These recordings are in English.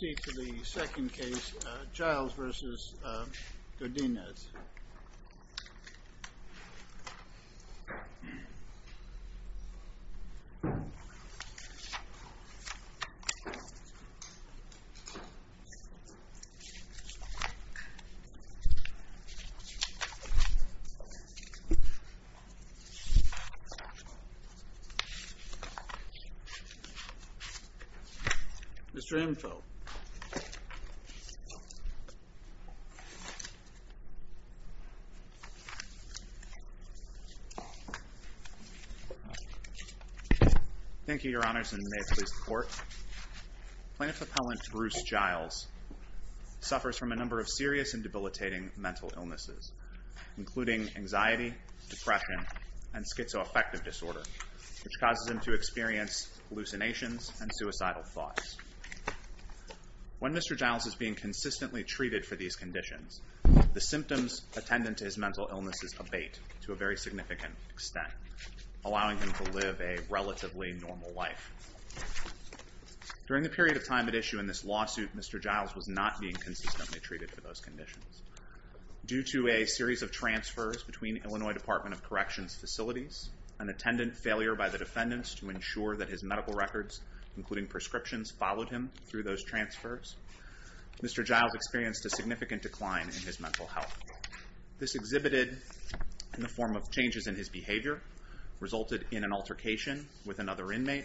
Let's proceed to the second case, Giles v. Godinez. Mr. Info. Thank you, Your Honors, and may it please the Court. Plaintiff's appellant Bruce Giles suffers from a number of serious and debilitating mental illnesses, including anxiety, depression, and schizoaffective disorder, which causes him to experience hallucinations and suicidal thoughts. When Mr. Giles is being consistently treated for these conditions, the symptoms attendant to his mental illnesses abate to a very significant extent, allowing him to live a relatively normal life. During the period of time at issue in this lawsuit, Mr. Giles was not being consistently treated for those conditions. Due to a series of transfers between Illinois Department of Corrections facilities and attendant failure by the defendants to ensure that his medical records, including prescriptions, followed him through those transfers, Mr. Giles experienced a significant decline in his mental health. This exhibited in the form of changes in his behavior, resulted in an altercation with another inmate,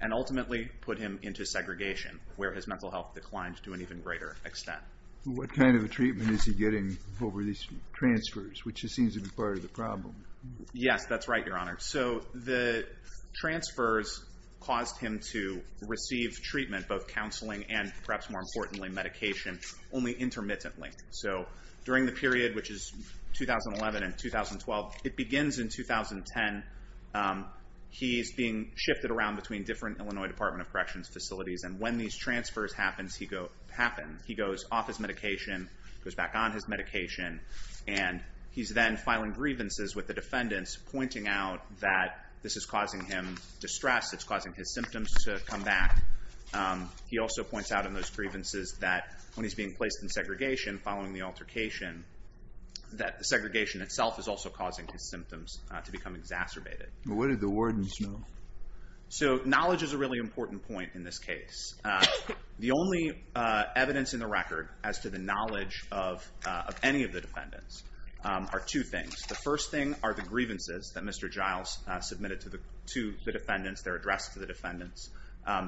and ultimately put him into segregation, where his mental health declined to an even greater extent. What kind of treatment is he getting over these transfers, which seems to be part of the problem? Yes, that's right, Your Honor. So the transfers caused him to receive treatment, both counseling and, perhaps more importantly, medication, only intermittently. So during the period, which is 2011 and 2012, it begins in 2010. He's being shifted around between different Illinois Department of Corrections facilities, and when these transfers happen, he goes off his medication, goes back on his medication, and he's then filing grievances with the defendants, pointing out that this is causing him distress, it's causing his symptoms to come back. He also points out in those grievances that when he's being placed in segregation, following the altercation, that the segregation itself is also causing his symptoms to become exacerbated. What did the wardens know? So knowledge is a really important point in this case. The only evidence in the record as to the knowledge of any of the defendants are two things. The first thing are the grievances that Mr. Giles submitted to the defendants, they're addressed to the defendants.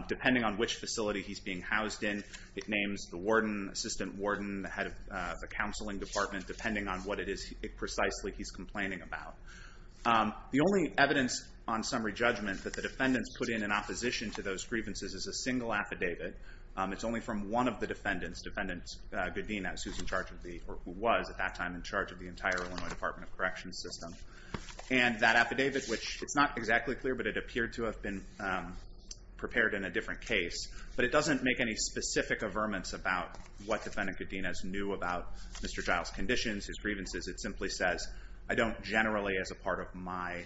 Depending on which facility he's being housed in, it names the warden, assistant warden, the head of the counseling department, depending on what it is precisely he's complaining about. The only evidence on summary judgment that the defendants put in in opposition to those grievances is a single affidavit. It's only from one of the defendants, defendant Godinez, who was at that time in charge of the entire Illinois Department of Corrections system. And that affidavit, which is not exactly clear, but it appeared to have been prepared in a different case, but it doesn't make any specific averments about what defendant Godinez knew about Mr. Giles' conditions, his grievances. It simply says, I don't generally, as a part of my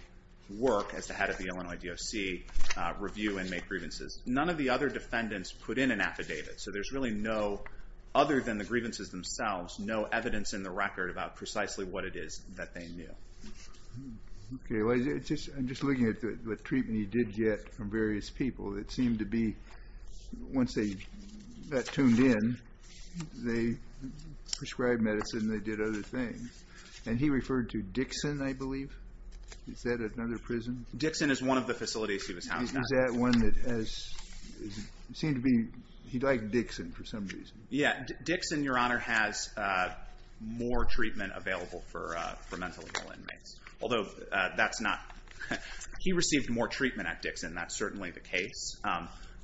work as the head of the Illinois DOC, review inmate grievances. None of the other defendants put in an affidavit. So there's really no, other than the grievances themselves, no evidence in the record about precisely what it is that they knew. Okay. I'm just looking at the treatment he did get from various people. It seemed to be, once they got tuned in, they prescribed medicine and they did other things. And he referred to Dixon, I believe. Is that another prison? Dixon is one of the facilities he was housed at. Is that one that has, it seemed to be he liked Dixon for some reason. Dixon, Your Honor, has more treatment available for mentally ill inmates. Although that's not, he received more treatment at Dixon. That's certainly the case.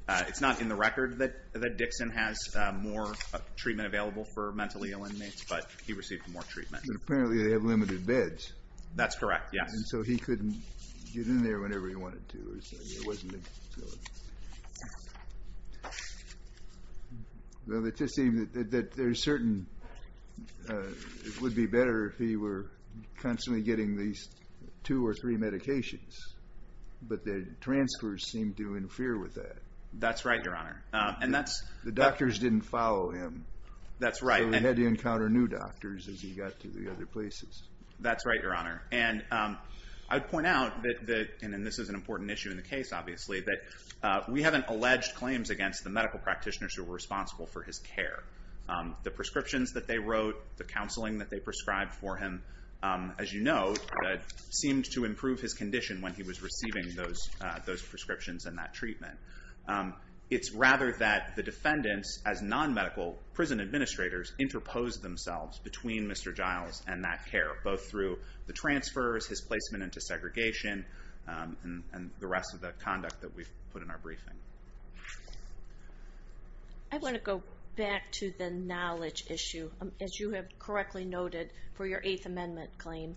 It's not in the record that Dixon has more treatment available for mentally ill inmates, but he received more treatment. But apparently they have limited beds. That's correct, yes. And so he couldn't get in there whenever he wanted to. It wasn't a facility. Well, it just seemed that there's certain, it would be better if he were constantly getting these two or three medications. But the transfers seemed to infer with that. That's right, Your Honor. The doctors didn't follow him. That's right. So he had to encounter new doctors as he got to the other places. That's right, Your Honor. And I'd point out that, and this is an important issue in the case, obviously, that we haven't alleged claims against the medical practitioners who were responsible for his care. The prescriptions that they wrote, the counseling that they prescribed for him, as you know, seemed to improve his condition when he was receiving those prescriptions and that treatment. It's rather that the defendants, as non-medical prison administrators, interposed themselves between Mr. Giles and that care, both through the transfers, his placement into segregation, and the rest of the conduct that we've put in our briefing. I want to go back to the knowledge issue. As you have correctly noted for your Eighth Amendment claim,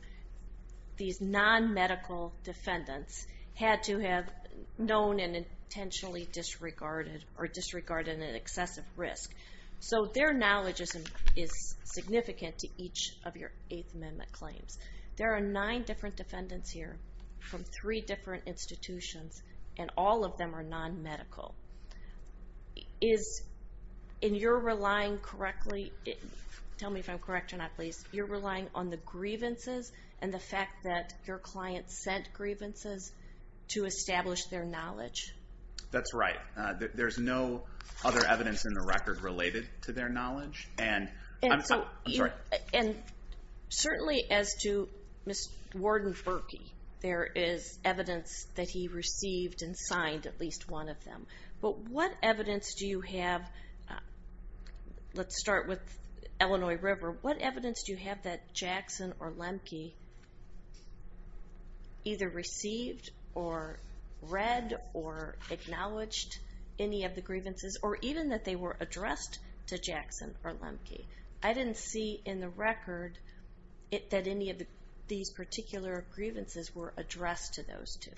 these non-medical defendants had to have known and intentionally disregarded or disregarded an excessive risk. So their knowledge is significant to each of your Eighth Amendment claims. There are nine different defendants here from three different institutions, and all of them are non-medical. And you're relying correctly, tell me if I'm correct or not, please, you're relying on the grievances and the fact that your client sent grievances to establish their knowledge? That's right. There's no other evidence in the record related to their knowledge. And I'm sorry. And certainly as to Warden Berkey, there is evidence that he received and signed at least one of them. But what evidence do you have? Let's start with Illinois River. What evidence do you have that Jackson or Lemke either received or read or acknowledged any of the grievances or even that they were addressed to Jackson or Lemke? I didn't see in the record that any of these particular grievances were addressed to those two.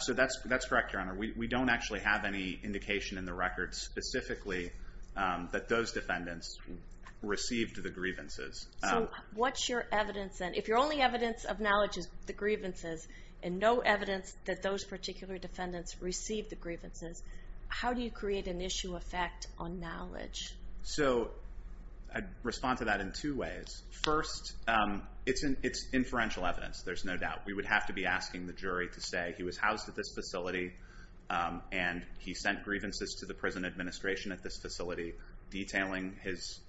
So that's correct, Your Honor. We don't actually have any indication in the record specifically that those defendants received the grievances. So what's your evidence then? If your only evidence of knowledge is the grievances and no evidence that those particular defendants received the grievances, how do you create an issue of fact on knowledge? So I'd respond to that in two ways. First, it's inferential evidence. There's no doubt. We would have to be asking the jury to say he was housed at this facility and he sent grievances to the prison administration at this facility detailing his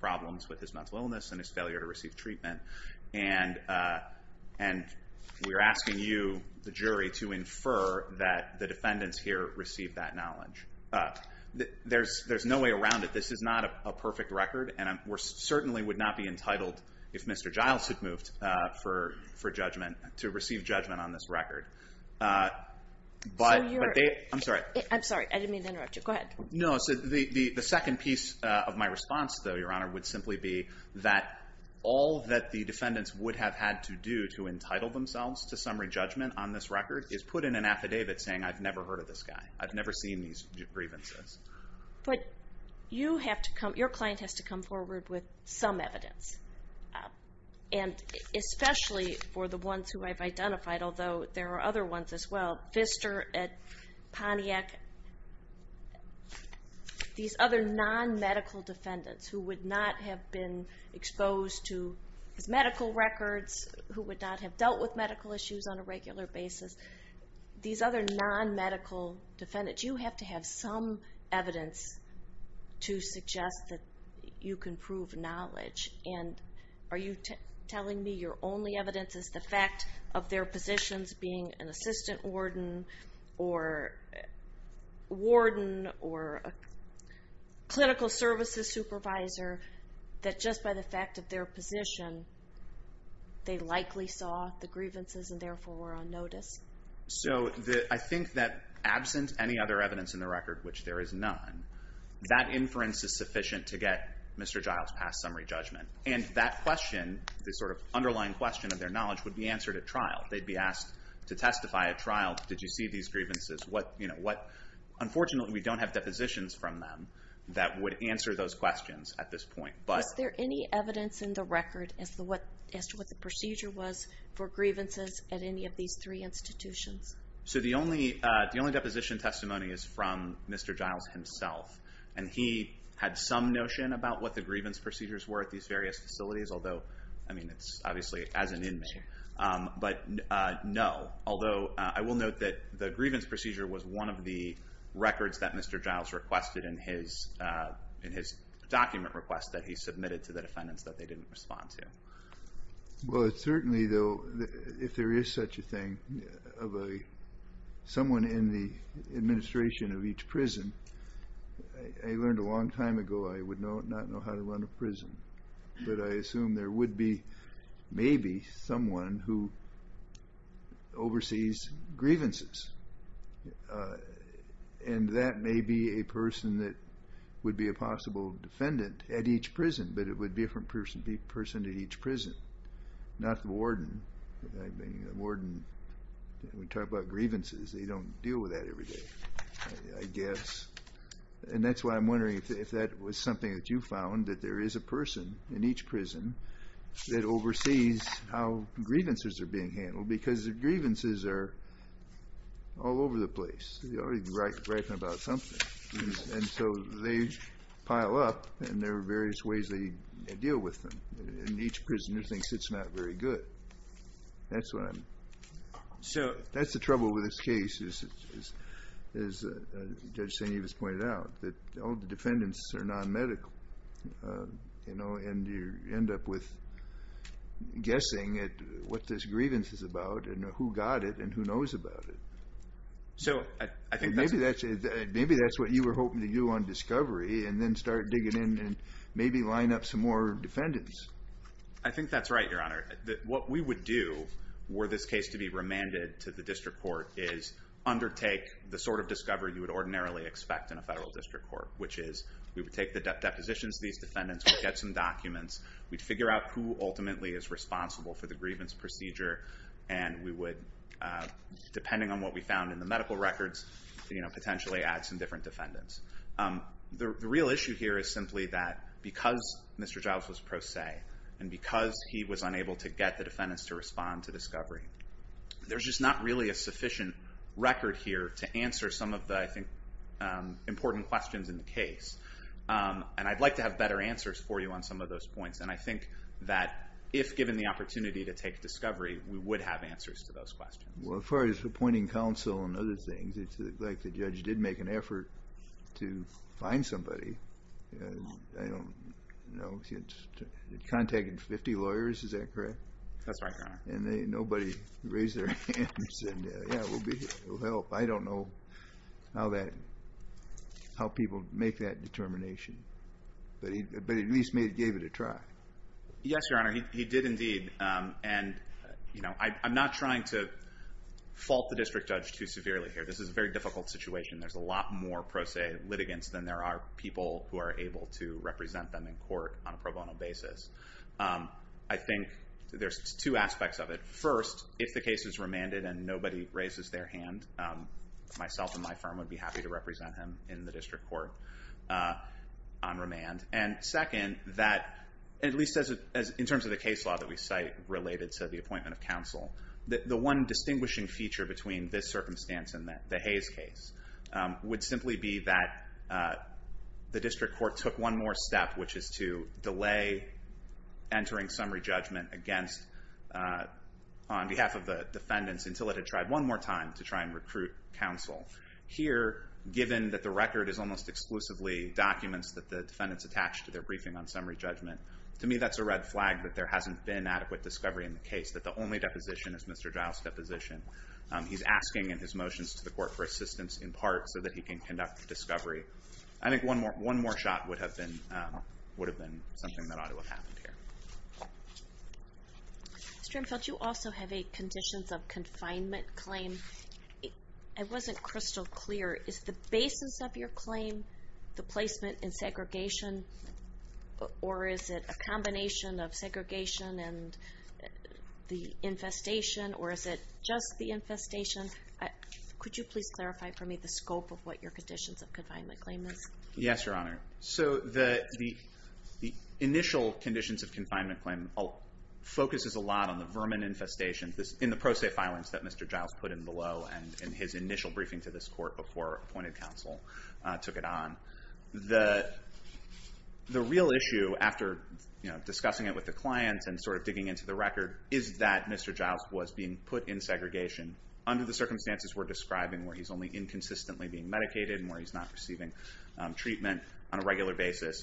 problems with his mental illness and his failure to receive treatment. And we're asking you, the jury, to infer that the defendants here received that knowledge. There's no way around it. This is not a perfect record, and we certainly would not be entitled, if Mr. Giles had moved for judgment, to receive judgment on this record. I'm sorry. I'm sorry, I didn't mean to interrupt you. Go ahead. No, the second piece of my response, though, Your Honor, would simply be that all that the defendants would have had to do to entitle themselves to summary judgment on this record is put in an affidavit saying, I've never heard of this guy. I've never seen these grievances. But your client has to come forward with some evidence, and especially for the ones who I've identified, although there are other ones as well. Pfister, Pontiac, these other non-medical defendants who would not have been exposed to his medical records, who would not have dealt with medical issues on a regular basis, these other non-medical defendants, you have to have some evidence to suggest that you can prove knowledge. And are you telling me your only evidence is the fact of their positions being an assistant warden or warden or clinical services supervisor, that just by the fact of their position, they likely saw the grievances and therefore were on notice? So I think that absent any other evidence in the record, which there is none, that inference is sufficient to get Mr. Giles' past summary judgment. And that question, the sort of underlying question of their knowledge, would be answered at trial. They'd be asked to testify at trial, did you see these grievances? Unfortunately, we don't have depositions from them that would answer those questions at this point. Was there any evidence in the record as to what the procedure was for grievances at any of these three institutions? So the only deposition testimony is from Mr. Giles himself, and he had some notion about what the grievance procedures were at these various facilities, although, I mean, it's obviously as an inmate. But no, although I will note that the grievance procedure was one of the records that Mr. Giles requested in his document request that he submitted to the defendants that they didn't respond to. Well, it certainly, though, if there is such a thing, of someone in the administration of each prison, I learned a long time ago I would not know how to run a prison. But I assume there would be maybe someone who oversees grievances, and that may be a person that would be a possible defendant at each prison, but it would be a different person at each prison, not the warden. I mean, the warden, we talk about grievances, they don't deal with that every day, I guess. And that's why I'm wondering if that was something that you found, that there is a person in each prison that oversees how grievances are being handled, because the grievances are all over the place. You're already writing about something. And so they pile up, and there are various ways they deal with them. And each prisoner thinks it's not very good. That's the trouble with this case, as Judge St. Evans pointed out, that all the defendants are non-medical, and you end up with guessing at what this grievance is about and who got it and who knows about it. Maybe that's what you were hoping to do on discovery and then start digging in and maybe line up some more defendants. I think that's right, Your Honor. What we would do were this case to be remanded to the district court is undertake the sort of discovery you would ordinarily expect in a federal district court, which is we would take the depositions of these defendants, we'd get some documents, we'd figure out who ultimately is responsible for the grievance procedure, and we would, depending on what we found in the medical records, potentially add some different defendants. The real issue here is simply that because Mr. Jobs was pro se and because he was unable to get the defendants to respond to discovery, there's just not really a sufficient record here to answer some of the, I think, important questions in the case. And I'd like to have better answers for you on some of those points, and I think that if given the opportunity to take discovery, we would have answers to those questions. Well, as far as appointing counsel and other things, it's like the judge did make an effort to find somebody. I don't know. He had contacted 50 lawyers, is that correct? That's right, Your Honor. And nobody raised their hands and said, yeah, we'll help. I don't know how people make that determination. But at least he gave it a try. Yes, Your Honor, he did indeed. And I'm not trying to fault the district judge too severely here. This is a very difficult situation. There's a lot more pro se litigants than there are people who are able to represent them in court on a pro bono basis. I think there's two aspects of it. First, if the case is remanded and nobody raises their hand, myself and my firm would be happy to represent him in the district court on remand. And second, that at least in terms of the case law that we cite related to the appointment of counsel, the one distinguishing feature between this circumstance and the Hayes case would simply be that the district court took one more step, which is to delay entering summary judgment on behalf of the defendants until it had tried one more time to try and recruit counsel. Here, given that the record is almost exclusively documents that the defendants attached to their briefing on summary judgment, to me that's a red flag that there hasn't been adequate discovery in the case, that the only deposition is Mr. Jowell's deposition. He's asking in his motions to the court for assistance in part so that he can conduct the discovery. I think one more shot would have been something that ought to have happened here. Mr. Imfeld, you also have a conditions of confinement claim. It wasn't crystal clear. Is the basis of your claim the placement in segregation, or is it a combination of segregation and the infestation, or is it just the infestation? Could you please clarify for me the scope of what your conditions of confinement claim is? Yes, Your Honor. The initial conditions of confinement claim focuses a lot on the vermin infestation in the pro se filings that Mr. Jowell put in below and in his initial briefing to this court before appointed counsel took it on. The real issue, after discussing it with the clients and digging into the record, is that Mr. Jowell was being put in segregation under the circumstances we're describing, where he's only inconsistently being medicated and where he's not receiving treatment on a regular basis.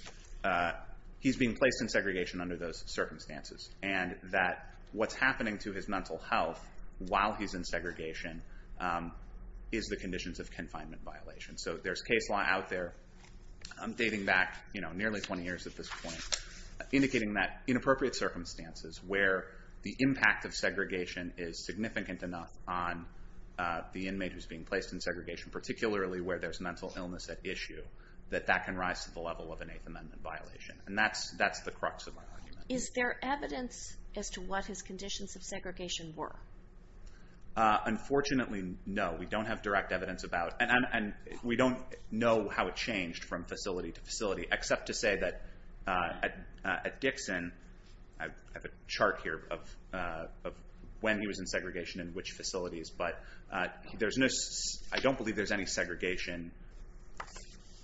He's being placed in segregation under those circumstances, and that what's happening to his mental health while he's in segregation is the conditions of confinement violation. So there's case law out there dating back nearly 20 years at this point indicating that in appropriate circumstances where the impact of segregation is significant enough on the inmate who's being placed in segregation, particularly where there's mental illness at issue, that that can rise to the level of an Eighth Amendment violation, and that's the crux of my argument. Is there evidence as to what his conditions of segregation were? Unfortunately, no. We don't have direct evidence about it, and we don't know how it changed from facility to facility, except to say that at Dixon, I have a chart here of when he was in segregation and which facilities, but I don't believe there's any segregation,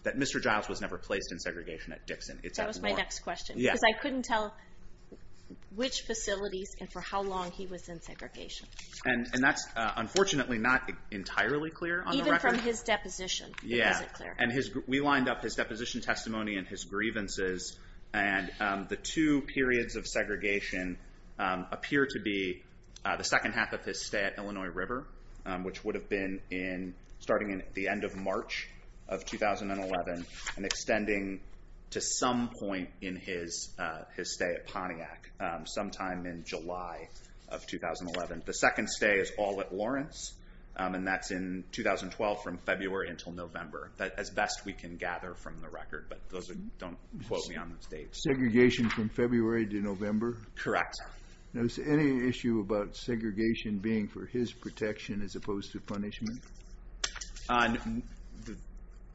that Mr. Jowell was never placed in segregation at Dixon. That was my next question, because I couldn't tell which facilities and for how long he was in segregation. And that's unfortunately not entirely clear on the record. Even from his deposition, it isn't clear. We lined up his deposition testimony and his grievances, and the two periods of segregation appear to be the second half of his stay at Illinois River, which would have been starting at the end of March of 2011 and extending to some point in his stay at Pontiac, sometime in July of 2011. The second stay is all at Lawrence, and that's in 2012 from February until November. That's as best we can gather from the record, but those don't quote me on those dates. Segregation from February to November? Correct. Now, is there any issue about segregation being for his protection as opposed to punishment?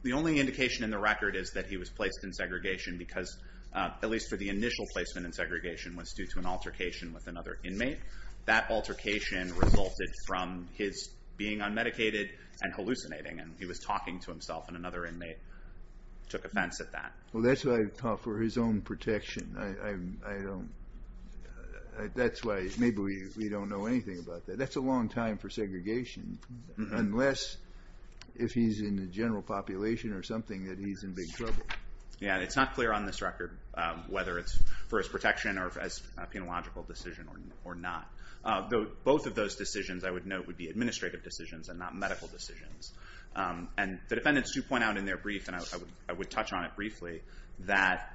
The only indication in the record is that he was placed in segregation because, at least for the initial placement in segregation, was due to an altercation with another inmate. That altercation resulted from his being unmedicated and hallucinating, and he was talking to himself, and another inmate took offense at that. Well, that's for his own protection. That's why maybe we don't know anything about that. That's a long time for segregation, unless if he's in the general population or something that he's in big trouble. Yeah, and it's not clear on this record whether it's for his protection or as a penological decision or not. Both of those decisions, I would note, would be administrative decisions and not medical decisions. And the defendants do point out in their brief, and I would touch on it briefly, that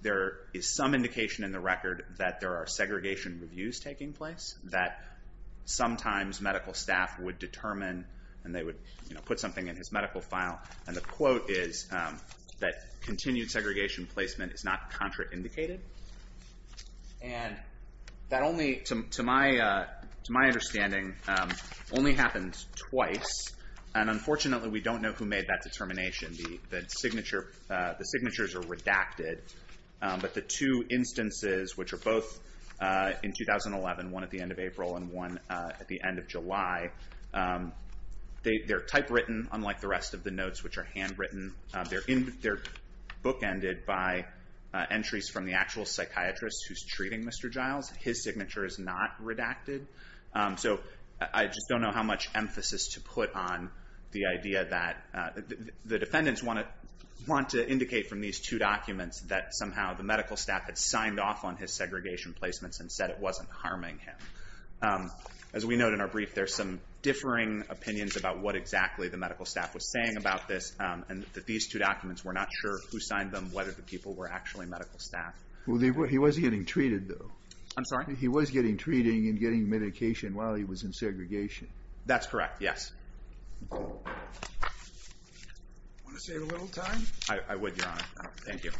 there is some indication in the record that there are segregation reviews taking place, that sometimes medical staff would determine and they would put something in his medical file, and the quote is that continued segregation placement is not contraindicated. And that only, to my understanding, only happens twice, and unfortunately we don't know who made that determination. The signatures are redacted, but the two instances, which are both in 2011, one at the end of April and one at the end of July, they're typewritten, unlike the rest of the notes, which are handwritten. They're bookended by entries from the actual psychiatrist who's treating Mr. Giles. His signature is not redacted. So I just don't know how much emphasis to put on the idea that the defendants want to indicate from these two documents that somehow the medical staff had signed off on his segregation placements and said it wasn't harming him. As we note in our brief, there's some differing opinions about what exactly the medical staff was saying about this, and that these two documents, we're not sure who signed them, whether the people were actually medical staff. Well, he was getting treated, though. I'm sorry? He was getting treated and getting medication while he was in segregation. That's correct, yes. Want to save a little time? I would, Your Honor. Thank you. Okay.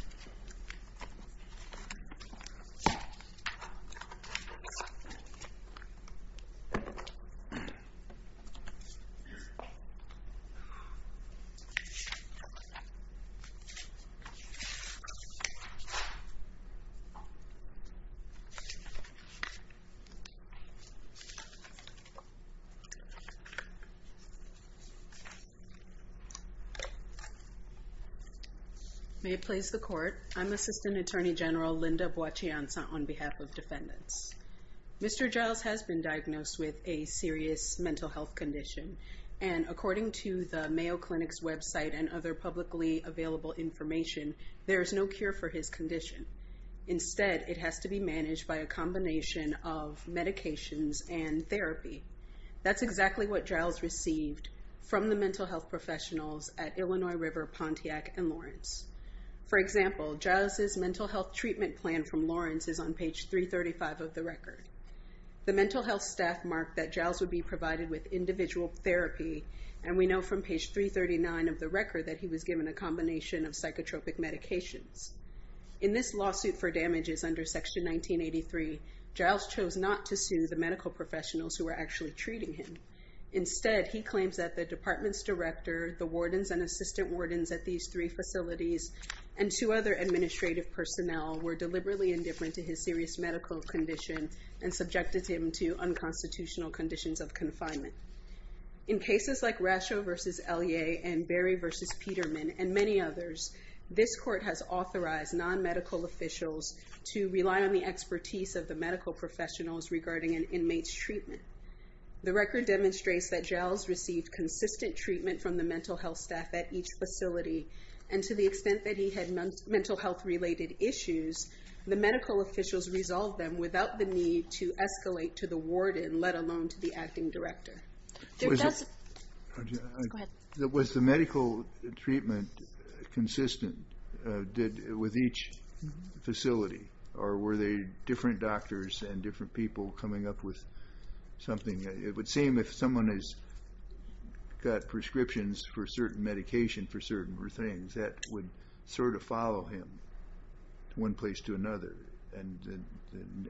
May it please the Court, I'm Assistant Attorney General Linda Boachianza on behalf of defendants. Mr. Giles has been diagnosed with a serious mental health condition, and according to the Mayo Clinic's website and other publicly available information, there is no cure for his condition. Instead, it has to be managed by a combination of medications and therapy. That's exactly what Giles received from the mental health professionals at Illinois River Pontiac and Lawrence. For example, Giles' mental health treatment plan from Lawrence is on page 335 of the record. The mental health staff marked that Giles would be provided with individual therapy, and we know from page 339 of the record that he was given a combination of psychotropic medications. In this lawsuit for damages under Section 1983, Giles chose not to sue the medical professionals who were actually treating him. Instead, he claims that the department's director, the wardens and assistant wardens at these three facilities, and two other administrative personnel were deliberately indifferent to his serious medical condition and subjected him to unconstitutional conditions of confinement. In cases like Rascho v. Elie and Berry v. Peterman and many others, this court has authorized non-medical officials to rely on the expertise of the medical professionals regarding an inmate's treatment. The record demonstrates that Giles received consistent treatment from the mental health staff at each facility and to the extent that he had mental health-related issues, the medical officials resolved them without the need to escalate to the warden, let alone to the acting director. Go ahead. Was the medical treatment consistent with each facility, or were they different doctors and different people coming up with something? It would seem if someone has got prescriptions for certain medication for certain things, that would sort of follow him from one place to another. And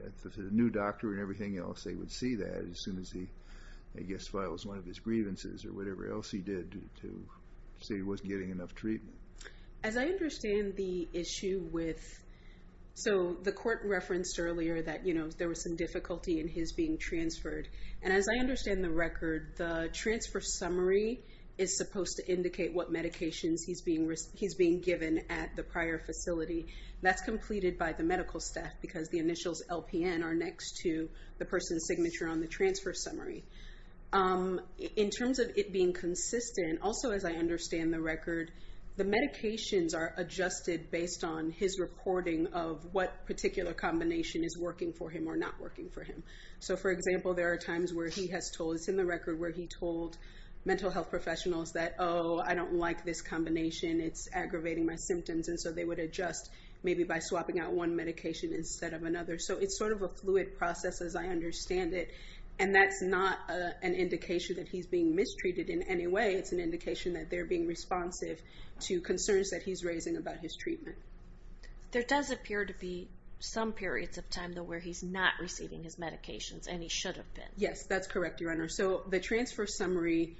if it's a new doctor and everything else, they would see that as soon as he, I guess, files one of his grievances or whatever else he did to say he wasn't getting enough treatment. As I understand the issue with, so the court referenced earlier that there was some difficulty in his being transferred. And as I understand the record, the transfer summary is supposed to indicate what medications he's being given at the prior facility. That's completed by the medical staff because the initials LPN are next to the person's signature on the transfer summary. In terms of it being consistent, also as I understand the record, the medications are adjusted based on his reporting of what particular combination is working for him or not working for him. So, for example, there are times where he has told, it's in the record where he told mental health professionals that, oh, I don't like this combination. It's aggravating my symptoms. And so they would adjust maybe by swapping out one medication instead of another. So it's sort of a fluid process as I understand it. And that's not an indication that he's being mistreated in any way. It's an indication that they're being responsive to concerns that he's raising about his treatment. There does appear to be some periods of time though where he's not receiving his medications and he should have been. Yes, that's correct, Your Honor. So the transfer summary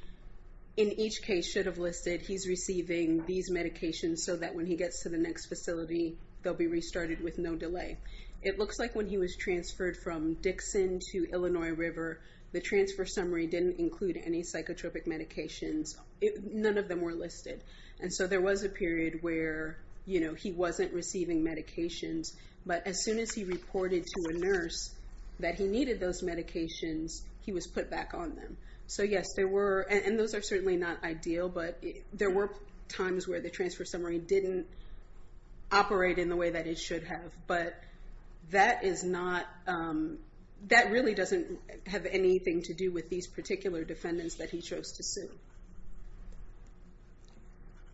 in each case should have listed he's receiving these medications so that when he gets to the next facility, they'll be restarted with no delay. It looks like when he was transferred from Dixon to Illinois River, the transfer summary didn't include any psychotropic medications. None of them were listed. And so there was a period where, you know, he wasn't receiving medications. But as soon as he reported to a nurse that he needed those medications, he was put back on them. So, yes, there were, and those are certainly not ideal, but there were times where the transfer summary didn't operate in the way that it should have. But that really doesn't have anything to do with these particular defendants that he chose to sue.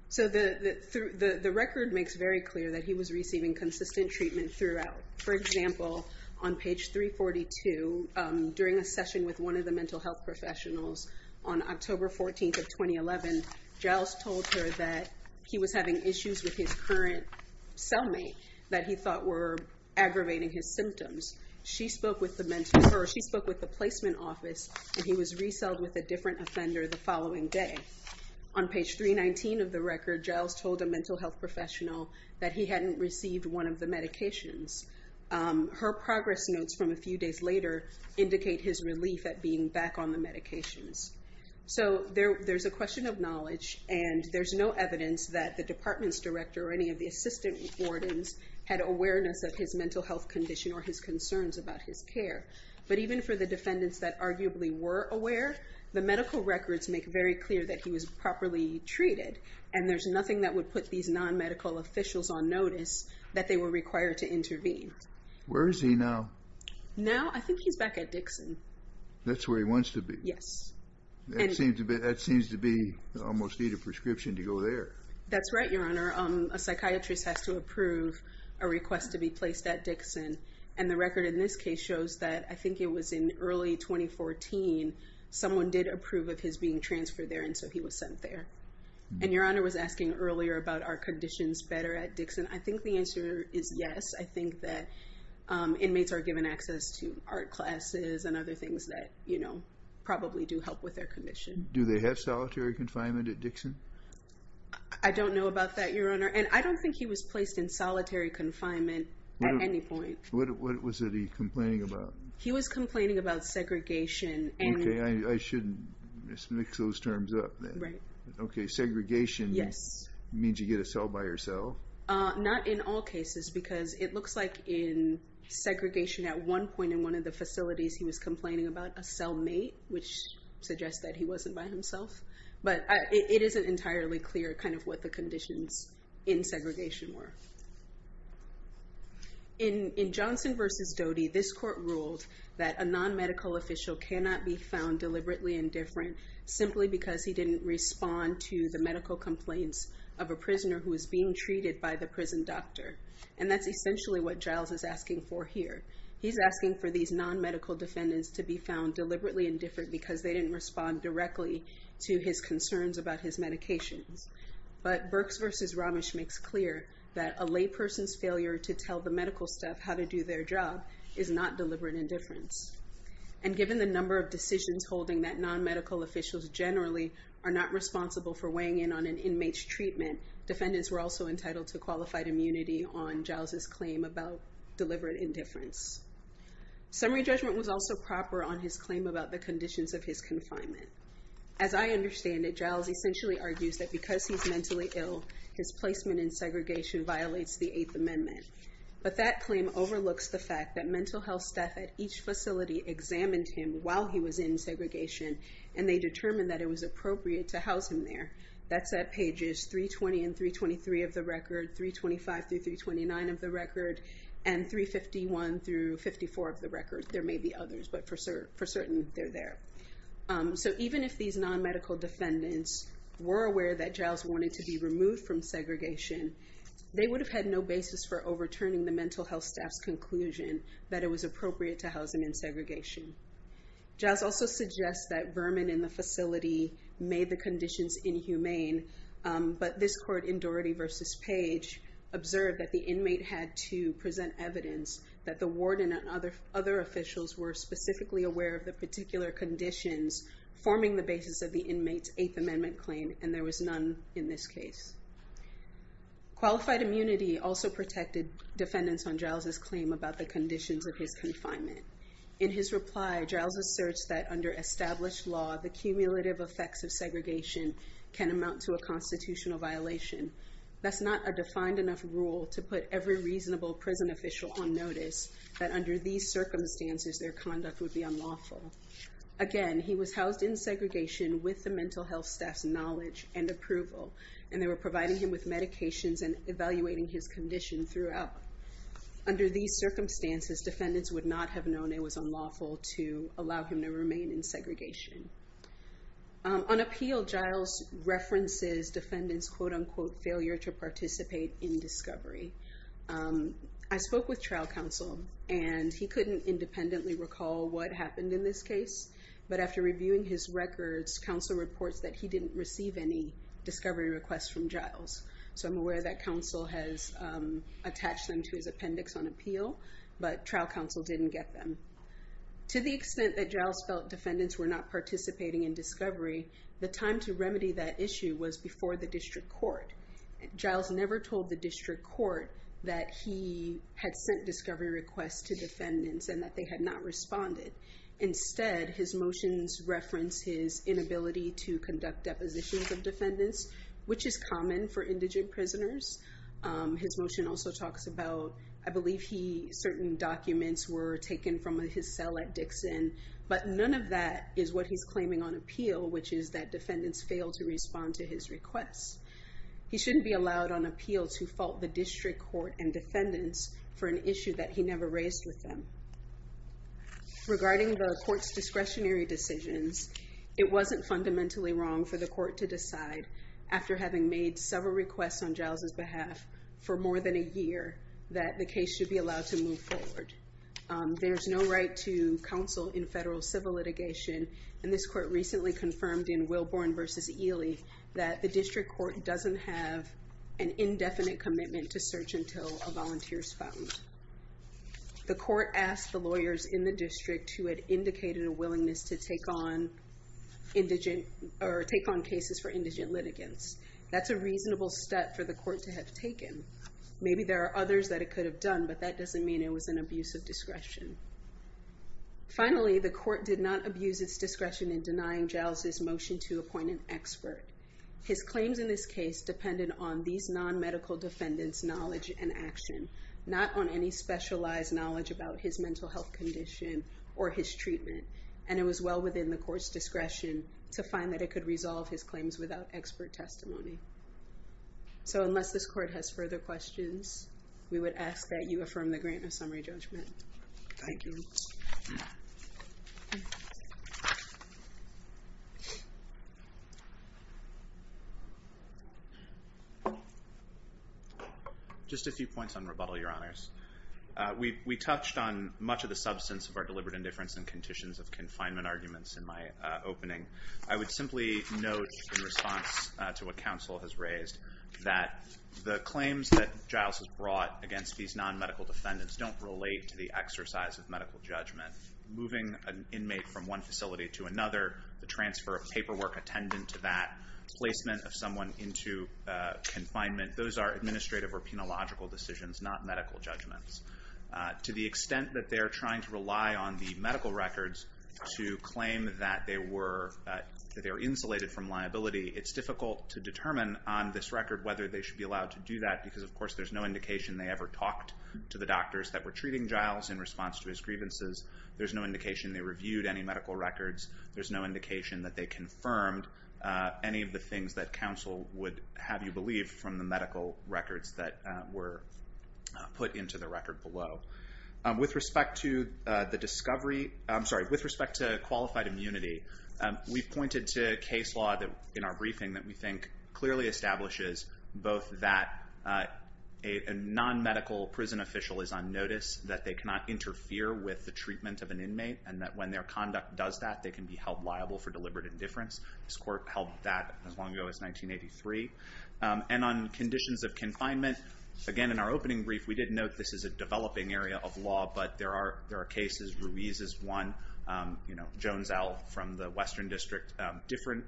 So the record makes very clear that he was receiving consistent treatment throughout. For example, on page 342, during a session with one of the mental health professionals on October 14th of 2011, Giles told her that he was having issues with his current cellmate that he thought were aggravating his symptoms. She spoke with the placement office, and he was reselled with a different offender the following day. On page 319 of the record, Giles told a mental health professional that he hadn't received one of the medications. Her progress notes from a few days later indicate his relief at being back on the medications. So there's a question of knowledge, and there's no evidence that the department's director or any of the assistant wardens had awareness of his mental health condition or his concerns about his care. But even for the defendants that arguably were aware, the medical records make very clear that he was properly treated, and there's nothing that would put these non-medical officials on notice that they were required to intervene. Where is he now? Now? I think he's back at Dixon. That's where he wants to be? Yes. That seems to be almost need a prescription to go there. That's right, Your Honor. A psychiatrist has to approve a request to be placed at Dixon, and the record in this case shows that I think it was in early 2014 someone did approve of his being transferred there, and so he was sent there. And Your Honor was asking earlier about are conditions better at Dixon. I think the answer is yes. I think that inmates are given access to art classes and other things that probably do help with their condition. Do they have solitary confinement at Dixon? I don't know about that, Your Honor, and I don't think he was placed in solitary confinement at any point. What was he complaining about? He was complaining about segregation. Okay, I shouldn't mix those terms up then. Right. Okay, segregation means you get a cell by yourself? Not in all cases because it looks like in segregation at one point in one of the facilities he was complaining about a cellmate, which suggests that he wasn't by himself, but it isn't entirely clear kind of what the conditions in segregation were. In Johnson v. Doty, this court ruled that a non-medical official cannot be found deliberately indifferent simply because he didn't respond to the medical complaints of a prisoner who was being treated by the prison doctor. And that's essentially what Giles is asking for here. He's asking for these non-medical defendants to be found deliberately indifferent because they didn't respond directly to his concerns about his medications. But Birx v. Ramesh makes clear that a layperson's failure to tell the medical staff how to do their job is not deliberate indifference. And given the number of decisions holding that non-medical officials generally are not responsible for weighing in on an inmate's treatment, defendants were also entitled to qualified immunity on Giles' claim about deliberate indifference. Summary judgment was also proper on his claim about the conditions of his confinement. As I understand it, Giles essentially argues that because he's mentally ill, his placement in segregation violates the Eighth Amendment. But that claim overlooks the fact that mental health staff at each facility examined him while he was in segregation and they determined that it was appropriate to house him there. That's at pages 320 and 323 of the record, 325 through 329 of the record, and 351 through 54 of the record. There may be others, but for certain, they're there. So even if these non-medical defendants were aware that Giles wanted to be removed from segregation, they would have had no basis for overturning the mental health staff's conclusion that it was appropriate to house him in segregation. Giles also suggests that vermin in the facility made the conditions inhumane, but this court in Doherty v. Page observed that the inmate had to present evidence that the warden and other officials were specifically aware of the particular conditions forming the basis of the inmate's Eighth Amendment claim and there was none in this case. Qualified immunity also protected defendants on Giles' claim about the conditions of his confinement. In his reply, Giles asserts that under established law, the cumulative effects of segregation can amount to a constitutional violation. That's not a defined enough rule to put every reasonable prison official on notice that under these circumstances, their conduct would be unlawful. Again, he was housed in segregation with the mental health staff's knowledge and approval and they were providing him with medications and evaluating his condition throughout. Under these circumstances, defendants would not have known it was unlawful to allow him to remain in segregation. On appeal, Giles references defendants' quote-unquote failure to participate in discovery. I spoke with trial counsel and he couldn't independently recall what happened in this case, but after reviewing his records, counsel reports that he didn't receive any discovery requests from Giles. So I'm aware that counsel has attached them to his appendix on appeal, but trial counsel didn't get them. To the extent that Giles felt defendants were not participating in discovery, the time to remedy that issue was before the district court. Giles never told the district court that he had sent discovery requests to defendants and that they had not responded. Instead, his motions reference his inability to conduct depositions of defendants, which is common for indigent prisoners. His motion also talks about, I believe certain documents were taken from his cell at Dixon, but none of that is what he's claiming on appeal, which is that defendants failed to respond to his requests. He shouldn't be allowed on appeal to fault the district court and defendants for an issue that he never raised with them. Regarding the court's discretionary decisions, it wasn't fundamentally wrong for the court to decide, after having made several requests on Giles' behalf for more than a year, that the case should be allowed to move forward. There's no right to counsel in federal civil litigation, and this court recently confirmed in Wilborn v. Ely that the district court doesn't have an indefinite commitment to search until a volunteer is found. The court asked the lawyers in the district who had indicated a willingness to take on cases for indigent litigants. That's a reasonable step for the court to have taken. Maybe there are others that it could have done, but that doesn't mean it was an abuse of discretion. Finally, the court did not abuse its discretion in denying Giles' motion to appoint an expert. His claims in this case depended on these non-medical defendants' knowledge and action, not on any specialized knowledge about his mental health condition or his treatment, and it was well within the court's discretion to find that it could resolve his claims without expert testimony. So unless this court has further questions, we would ask that you affirm the grant of summary judgment. Thank you. Just a few points on rebuttal, Your Honors. We touched on much of the substance of our deliberate indifference and conditions of confinement arguments in my opening. I would simply note in response to what counsel has raised that the claims that Giles has brought against these non-medical defendants don't relate to the exercise of medical judgment. Moving an inmate from one facility to another, the transfer of paperwork attendant to that, placement of someone into confinement, those are administrative or penological decisions, not medical judgments. To the extent that they are trying to rely on the medical records to claim that they are insulated from liability, it's difficult to determine on this record whether they should be allowed to do that because, of course, there's no indication they ever talked to the doctors that were treating Giles in response to his grievances. There's no indication they reviewed any medical records. There's no indication that they confirmed any of the things that counsel would have you believe from the medical records that were put into the record below. With respect to the discovery, I'm sorry, with respect to qualified immunity, we've pointed to case law in our briefing that we think clearly establishes both that a non-medical prison official is on notice, that they cannot interfere with the treatment of an inmate, and that when their conduct does that, they can be held liable for deliberate indifference. This court held that as long ago as 1983. And on conditions of confinement, again, in our opening brief, we did note this is a developing area of law, but there are cases, Ruiz is one, Jones L. from the Western District, different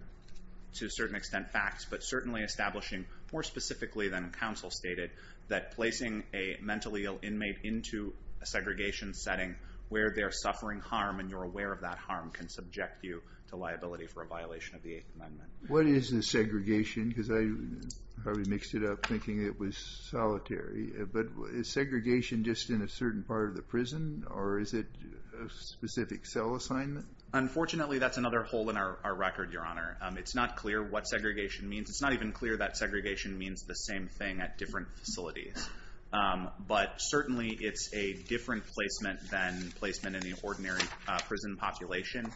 to a certain extent facts, but certainly establishing more specifically than counsel stated that placing a mentally ill inmate into a segregation setting where they're suffering harm and you're aware of that harm can subject you to liability for a violation of the Eighth Amendment. What is a segregation? Because I probably mixed it up thinking it was solitary. But is segregation just in a certain part of the prison, or is it a specific cell assignment? Unfortunately, that's another hole in our record, Your Honor. It's not clear what segregation means. It's not even clear that segregation means the same thing at different facilities. But certainly it's a different placement than placement in the ordinary prison population.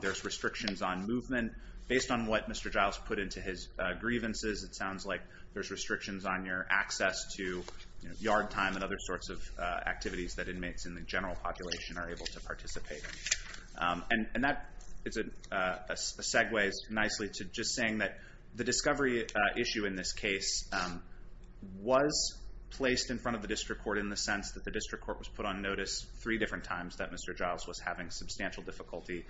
There's restrictions on movement. Based on what Mr. Giles put into his grievances, it sounds like there's restrictions on your access to yard time and other sorts of activities that inmates in the general population are able to participate in. And that segues nicely to just saying that the discovery issue in this case was placed in front of the district court in the sense that the district court was put on notice three different times that Mr. Giles was having substantial difficulty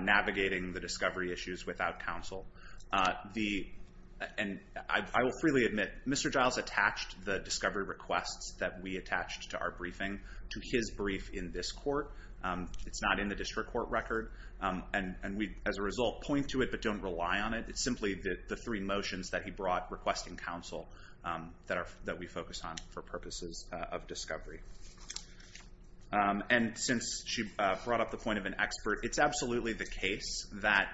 navigating the discovery issues without counsel. And I will freely admit, Mr. Giles attached the discovery requests that we attached to our briefing to his brief in this court. It's not in the district court record. And we, as a result, point to it but don't rely on it. It's simply the three motions that he brought requesting counsel that we focus on for purposes of discovery. And since she brought up the point of an expert, it's absolutely the case that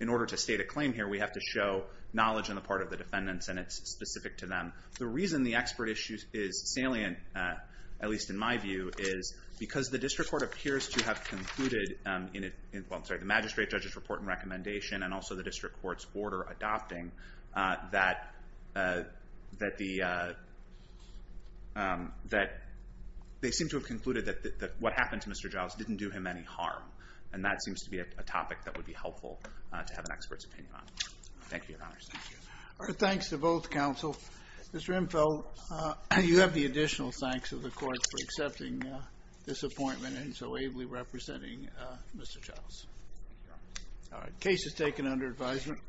in order to state a claim here, we have to show knowledge on the part of the defendants and it's specific to them. The reason the expert issue is salient, at least in my view, is because the district court appears to have concluded in the magistrate judge's report and recommendation and also the district court's order adopting, that they seem to have concluded that what happened to Mr. Giles didn't do him any harm. And that seems to be a topic that would be helpful to have an expert's opinion on. Thank you, Your Honors. Thanks to both counsel. Mr. Rimfeld, you have the additional thanks of the court for accepting this appointment and so ably representing Mr. Giles. All right. Case is taken under advisement.